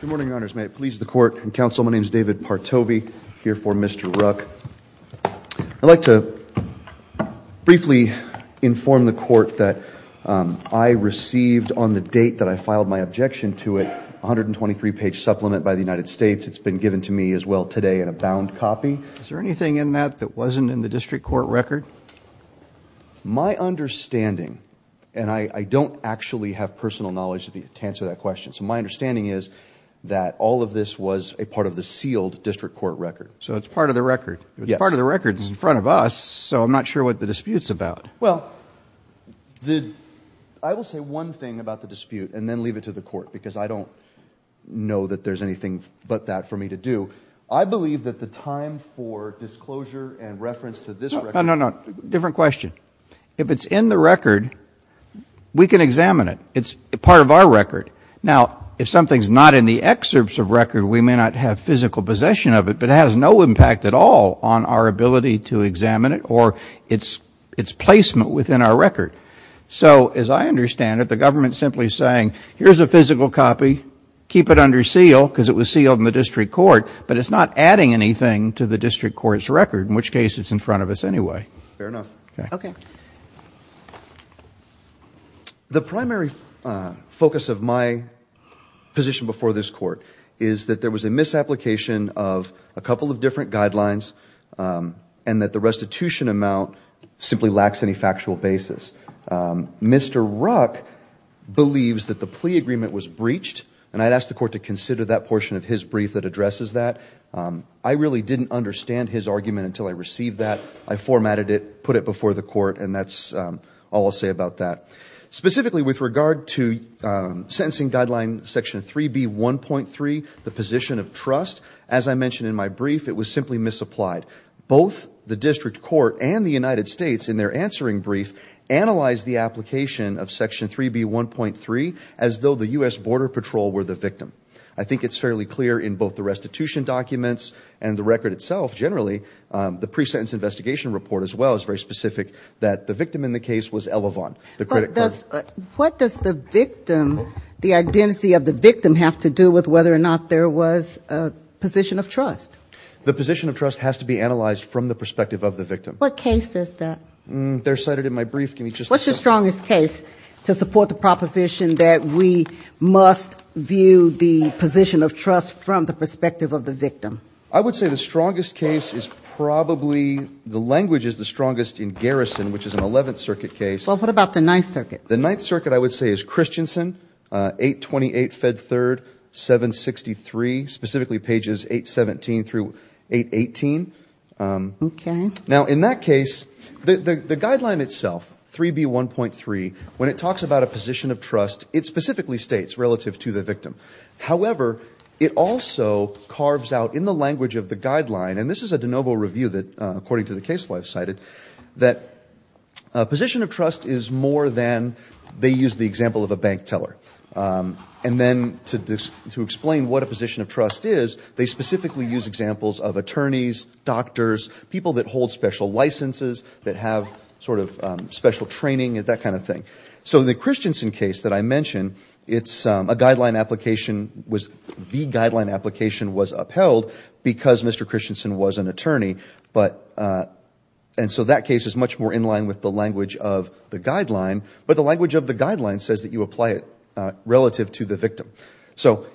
Good morning, Your Honors. May it please the Court and Counsel, my name is David Partovy, here for Mr. Ruck. I'd like to briefly inform the Court that I received, on the date that I filed my objection to it, a 123-page supplement by the United States. It's been given to me as well today in a bound copy. Is there anything in that that wasn't in the District Court record? My understanding, and I don't actually have personal knowledge to answer that question, so my understanding is that all of this was a part of the sealed District Court record. So it's part of the record? Yes. It's part of the record. It's in front of us, so I'm not sure what the dispute's about. Well, I will say one thing about the dispute and then leave it to the Court, because I don't know that there's anything but that for me to do. I believe that the time for disclosure and reference to this record… No, no, no. Different question. If it's in the record, we can examine it. It's part of our record. Now, if something's not in the excerpts of record, we may not have physical possession of it, but it has no impact at all on our ability to examine it or its placement within our record. So, as I understand it, the government's simply saying, here's a physical copy, keep it under seal, because it was sealed in the District Court, but it's not adding anything to the District Court's record, in which case it's in front of us anyway. Fair enough. Okay. The primary focus of my position before this Court is that there was a misapplication of a couple of different guidelines and that the restitution amount simply lacks any factual basis. Mr. Ruck believes that the plea agreement was breached, and I'd ask the Court to consider that portion of his brief that addresses that. I really didn't understand his argument until I received that. I formatted it, put it before the Court, and that's all I'll say about that. Specifically, with regard to Sentencing Guideline Section 3B.1.3, the position of trust, as I mentioned in my brief, it was simply misapplied. Both the District Court and the United States, in their answering brief, analyzed the application of Section 3B.1.3 as though the U.S. Border Patrol were the victim. I think it's fairly clear in both the restitution documents and the record itself, generally, the pre-sentence investigation report as well is very specific, that the victim in the case was Elavon, the credit card. What does the victim, the identity of the victim, have to do with whether or not there was a position of trust? The position of trust has to be analyzed from the perspective of the victim. What case is that? They're cited in my brief. What's the strongest case to support the proposition that we must view the position of trust from the perspective of the victim? I would say the strongest case is probably, the language is the strongest in Garrison, which is an 11th Circuit case. Well, what about the 9th Circuit? The 9th Circuit, I would say, is Christiansen, 828 Fed 3rd, 763, specifically pages 817 through 818. Okay. Now, in that case, the guideline itself, 3B.1.3, when it talks about a position of trust, it specifically states relative to the victim. However, it also carves out in the language of the guideline, and this is a de novo review that, according to the case I've cited, that a position of trust is more than they use the example of a bank teller. And then to explain what a position of trust is, they specifically use examples of attorneys, doctors, people that hold special licenses, that have sort of special training, that kind of thing. So the Christiansen case that I mentioned, it's a guideline application, the guideline application was upheld because Mr. Christiansen was an attorney. And so that case is much more in line with the language of the guideline, but the language of the guideline says that you apply it relative to the victim. So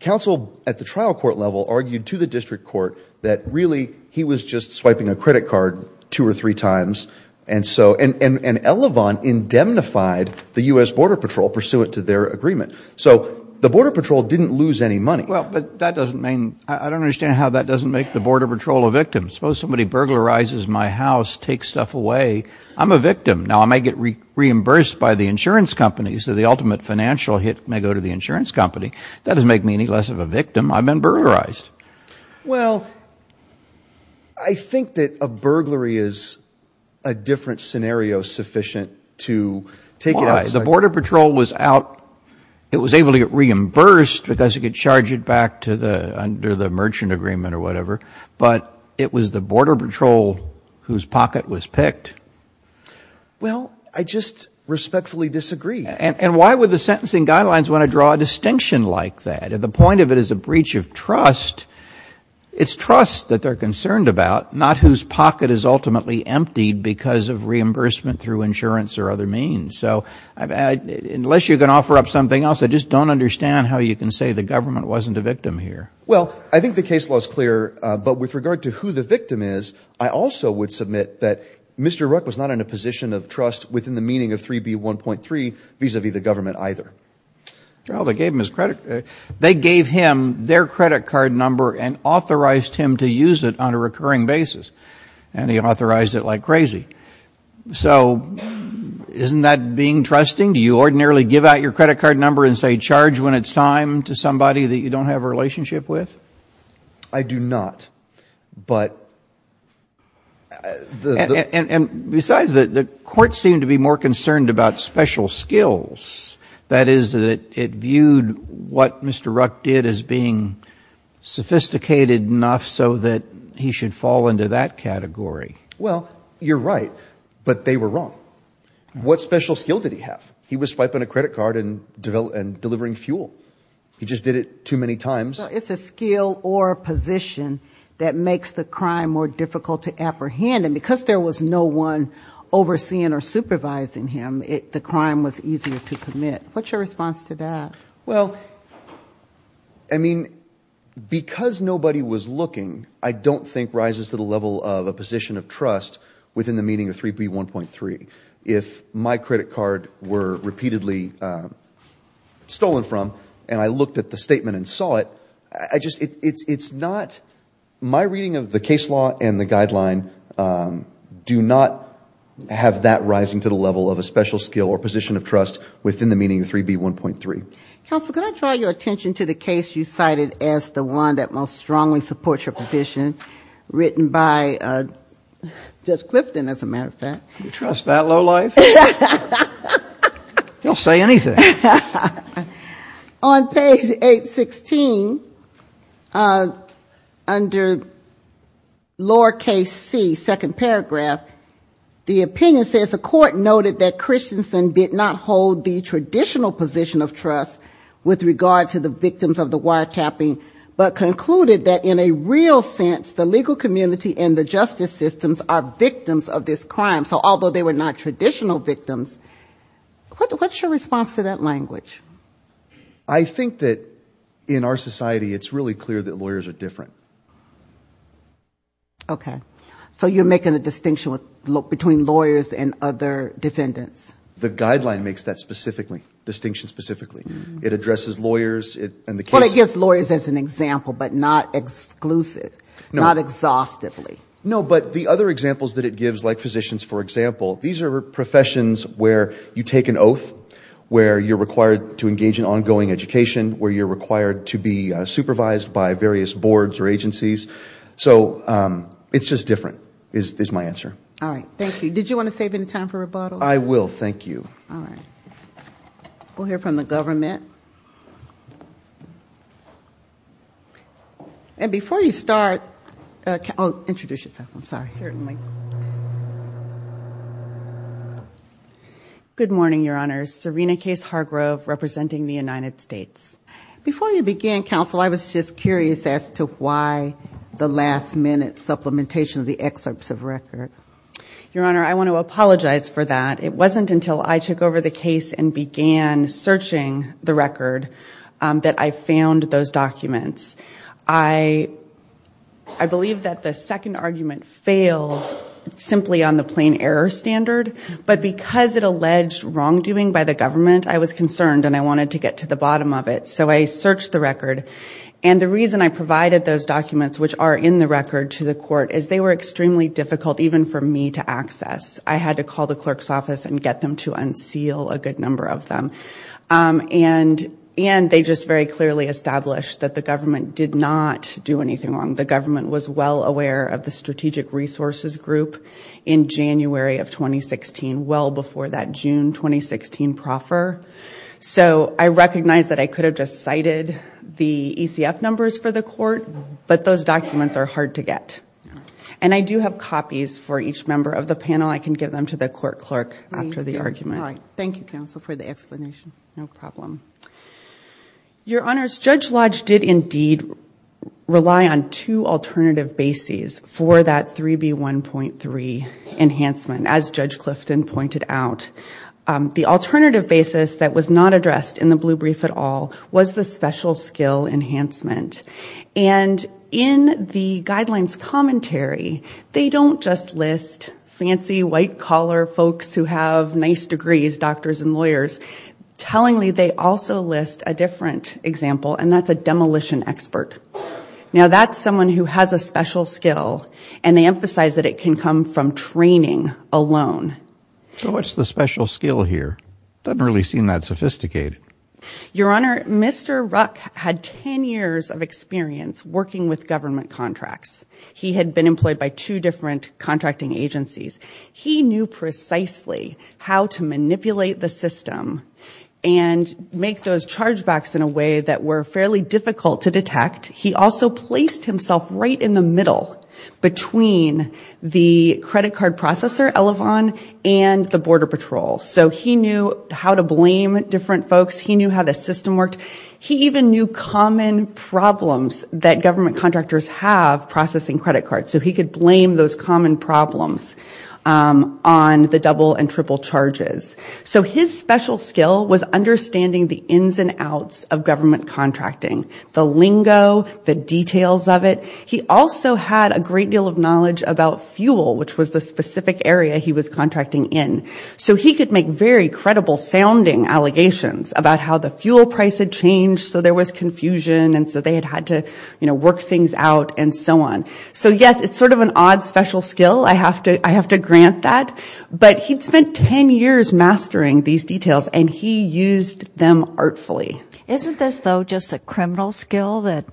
counsel at the trial court level argued to the district court that really he was just swiping a credit card two or three times. And Elevon indemnified the U.S. Border Patrol pursuant to their agreement. So the Border Patrol didn't lose any money. Well, but that doesn't mean, I don't understand how that doesn't make the Border Patrol a victim. Suppose somebody burglarizes my house, takes stuff away, I'm a victim. Now, I may get reimbursed by the insurance company, so the ultimate financial hit may go to the insurance company. That doesn't make me any less of a victim. I've been burglarized. Well, I think that a burglary is a different scenario sufficient to take it outside. Why? The Border Patrol was out. It was able to get reimbursed because it could charge it back under the merchant agreement or whatever, but it was the Border Patrol whose pocket was picked. Well, I just respectfully disagree. And why would the sentencing guidelines want to draw a distinction like that? The point of it is a breach of trust. It's trust that they're concerned about, not whose pocket is ultimately emptied because of reimbursement through insurance or other means. So unless you're going to offer up something else, I just don't understand how you can say the government wasn't a victim here. Well, I think the case law is clear, but with regard to who the victim is, I also would submit that Mr. Rook was not in a position of trust within the meaning of 3B1.3 vis-à-vis the government either. Well, they gave him his credit. They gave him their credit card number and authorized him to use it on a recurring basis, and he authorized it like crazy. So isn't that being trusting? Do you ordinarily give out your credit card number and say charge when it's time to somebody that you don't have a relationship with? I do not, but the — And besides, the courts seem to be more concerned about special skills. That is, it viewed what Mr. Rook did as being sophisticated enough so that he should fall into that category. Well, you're right, but they were wrong. What special skill did he have? He was swiping a credit card and delivering fuel. He just did it too many times. It's a skill or a position that makes the crime more difficult to apprehend, and because there was no one overseeing or supervising him, the crime was easier to commit. What's your response to that? Well, I mean, because nobody was looking, I don't think rises to the level of a position of trust within the meaning of 3B1.3. If my credit card were repeatedly stolen from and I looked at the statement and saw it, it's not — my reading of the case law and the guideline do not have that rising to the level of a special skill or position of trust within the meaning of 3B1.3. Counsel, can I draw your attention to the case you cited as the one that most strongly supports your position, written by Judge Clifton, as a matter of fact? You trust that lowlife? He'll say anything. On page 816, under lower case C, second paragraph, the opinion says the court noted that Christensen did not hold the traditional position of trust with regard to the victims of the wiretapping, but concluded that in a real sense the legal community and the justice systems are victims of this crime. So although they were not traditional victims, what's your response to that language? I think that in our society it's really clear that lawyers are different. Okay. So you're making a distinction between lawyers and other defendants? The guideline makes that distinction specifically. It addresses lawyers and the case. Well, it gives lawyers as an example, but not exclusive, not exhaustively. No, but the other examples that it gives, like physicians, for example, these are professions where you take an oath, where you're required to engage in ongoing education, where you're required to be supervised by various boards or agencies. So it's just different, is my answer. All right. Thank you. Did you want to save any time for rebuttals? I will. Thank you. All right. We'll hear from the government. And before you start, introduce yourself. I'm sorry. Certainly. Good morning, Your Honor. Serena Case Hargrove, representing the United States. Before you began, counsel, I was just curious as to why the last-minute supplementation of the excerpts of record. Your Honor, I want to apologize for that. It wasn't until I took over the case and began searching the record that I found those documents. I believe that the second argument fails simply on the plain error standard, but because it alleged wrongdoing by the government, I was concerned and I wanted to get to the bottom of it. So I searched the record. And the reason I provided those documents, which are in the record to the court, is they were extremely difficult even for me to access. I had to call the clerk's office and get them to unseal a good number of them. And they just very clearly established that the government did not do anything wrong. The government was well aware of the Strategic Resources Group in January of 2016, well before that June 2016 proffer. So I recognize that I could have just cited the ECF numbers for the court, but those documents are hard to get. And I do have copies for each member of the panel. I can give them to the court clerk after the argument. Thank you, counsel, for the explanation. No problem. Your Honors, Judge Lodge did indeed rely on two alternative bases for that 3B1.3 enhancement, as Judge Clifton pointed out. The alternative basis that was not addressed in the blue brief at all was the special skill enhancement. And in the guidelines commentary, they don't just list fancy white collar folks who have nice degrees, doctors and lawyers. Tellingly, they also list a different example, and that's a demolition expert. Now that's someone who has a special skill, and they emphasize that it can come from training alone. So what's the special skill here? It doesn't really seem that sophisticated. Your Honor, Mr. Ruck had 10 years of experience working with government contracts. He had been employed by two different contracting agencies. He knew precisely how to manipulate the system and make those chargebacks in a way that were fairly difficult to detect. He also placed himself right in the middle between the credit card processor, Elevon, and the government. And the border patrol. So he knew how to blame different folks. He knew how the system worked. He even knew common problems that government contractors have processing credit cards. So he could blame those common problems on the double and triple charges. So his special skill was understanding the ins and outs of government contracting. The lingo, the details of it. He also had a great deal of knowledge about fuel, which was the specific area he was contracting in. So he could make very credible sounding allegations about how the fuel price had changed, so there was confusion, and so they had had to work things out, and so on. So yes, it's sort of an odd special skill. I have to grant that. But he'd spent 10 years mastering these details, and he used them artfully. Isn't this, though, just a criminal skill that,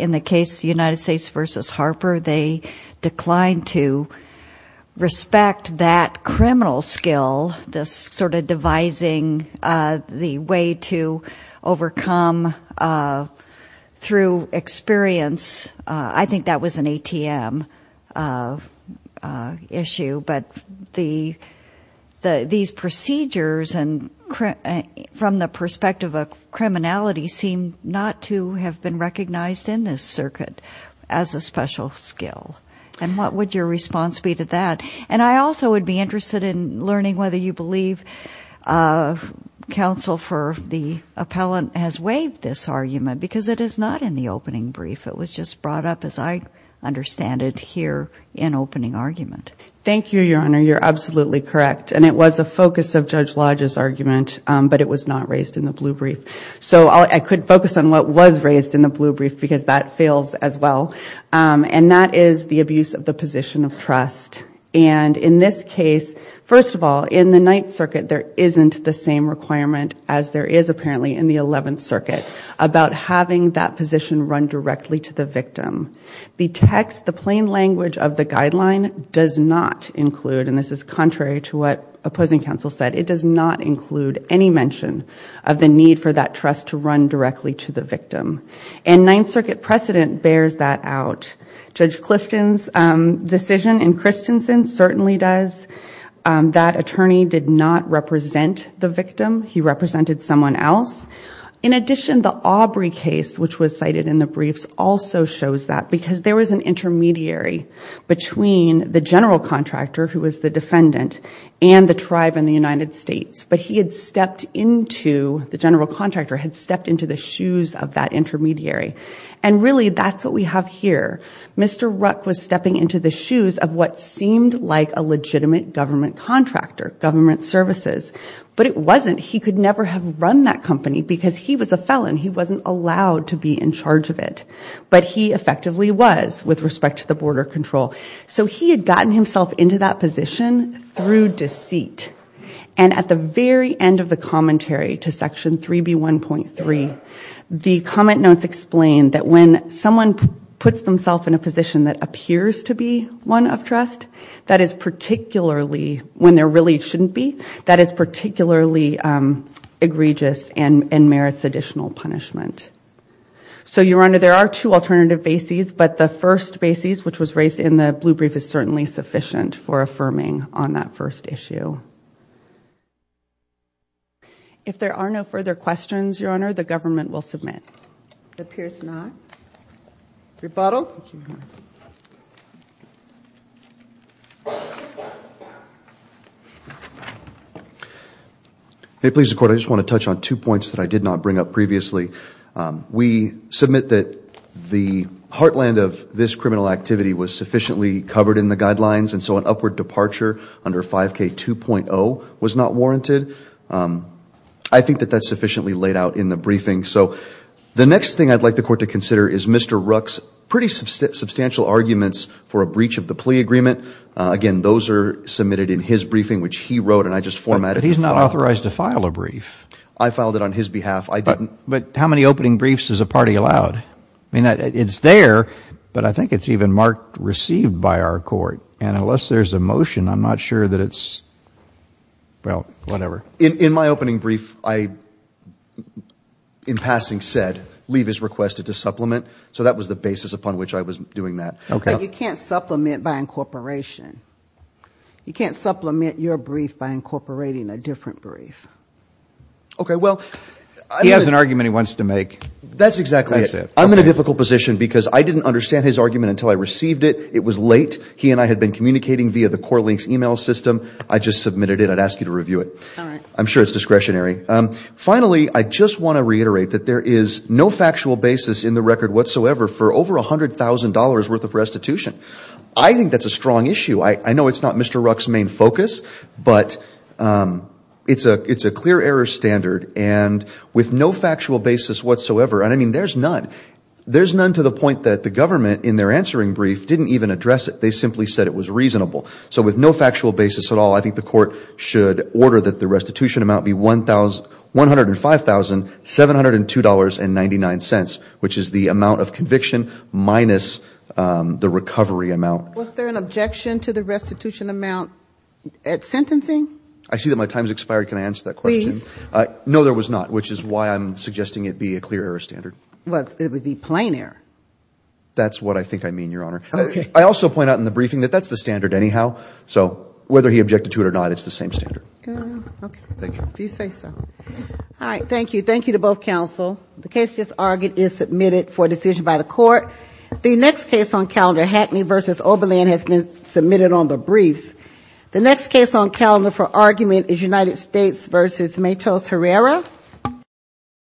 in the case United States v. Harper, they declined to respect that criminal skill, this sort of devising the way to overcome through experience? I think that was an ATM issue. But these procedures, from the perspective of criminality, seem not to have been recognized in this circuit as a special skill. And what would your response be to that? And I also would be interested in learning whether you believe counsel for the appellant has waived this argument, because it is not in the opening brief. It was just brought up, as I understand it, here in opening argument. Thank you, Your Honor. You're absolutely correct. And it was a focus of Judge Lodge's argument, but it was not raised in the blue brief. So I could focus on what was raised in the blue brief, because that fails as well, and that is the abuse of the position of trust. And in this case, first of all, in the Ninth Circuit there isn't the same requirement as there is apparently in the Eleventh Circuit about having that position run directly to the victim. The text, the plain language of the guideline does not include, and this is contrary to what opposing counsel said, it does not include any mention of the need for that trust to run directly to the victim. And Ninth Circuit precedent bears that out. Judge Clifton's decision, and Christensen's certainly does, that attorney did not represent the victim. He represented someone else. In addition, the Aubrey case, which was cited in the briefs, also shows that, because there was an intermediary between the general contractor, who was the defendant, and the tribe in the United States, but he had stepped into, the general contractor had stepped into the shoes of that intermediary. And really, that's what we have here. Mr. Ruck was stepping into the shoes of what seemed like a legitimate government contractor, government services. But it wasn't. He could never have run that company, because he was a felon. He wasn't allowed to be in charge of it. But he effectively was, with respect to the border control. So he had gotten himself into that position through deceit. And at the very end of the commentary to Section 3B1.3, the comment notes explain that when someone puts themselves in a position that appears to be one of trust, that is particularly, when there really shouldn't be, that is particularly egregious and merits additional punishment. So, Your Honor, there are two alternative bases, but the first basis, which was raised in the blue brief, is certainly sufficient for affirming on that first issue. If there are no further questions, Your Honor, the government will submit. Appears not. Rebuttal. Hey, please, the Court. I just want to touch on two points that I did not bring up previously. We submit that the heartland of this criminal activity was sufficiently covered in the guidelines, and so an upward departure under 5K2.0 was not warranted. I think that that's sufficiently laid out in the briefing. So the next thing I'd like the Court to consider is Mr. Rook's pretty substantial arguments for a breach of the plea agreement. Again, those are submitted in his briefing, which he wrote and I just formatted. But he's not authorized to file a brief. I filed it on his behalf. I didn't. But how many opening briefs is a party allowed? I mean, it's there, but I think it's even marked received by our Court. And unless there's a motion, I'm not sure that it's, well, whatever. In my opening brief, I, in passing, said, leave as requested to supplement. So that was the basis upon which I was doing that. But you can't supplement by incorporation. You can't supplement your brief by incorporating a different brief. Okay, well, he has an argument he wants to make. That's exactly it. I'm in a difficult position because I didn't understand his argument until I received it. It was late. He and I had been communicating via the CorLinks email system. I just submitted it. I'd ask you to review it. I'm sure it's discretionary. Finally, I just want to reiterate that there is no factual basis in the record whatsoever for over $100,000 worth of restitution. I think that's a strong issue. I know it's not Mr. Ruck's main focus, but it's a clear error standard. And with no factual basis whatsoever, and, I mean, there's none. There's none to the point that the government, in their answering brief, didn't even address it. They simply said it was reasonable. So with no factual basis at all, I think the court should order that the restitution amount be $105,702.99, which is the amount of conviction minus the recovery amount. Was there an objection to the restitution amount at sentencing? I see that my time has expired. Can I answer that question? No, there was not, which is why I'm suggesting it be a clear error standard. It would be plain error. That's what I think I mean, Your Honor. I also point out in the briefing that that's the standard anyhow. So whether he objected to it or not, it's the same standard. All right. Thank you. Thank you to both counsel. The case just argued is submitted for decision by the court. The next case on calendar, Hackney v. Oberlin, has been submitted on the briefs.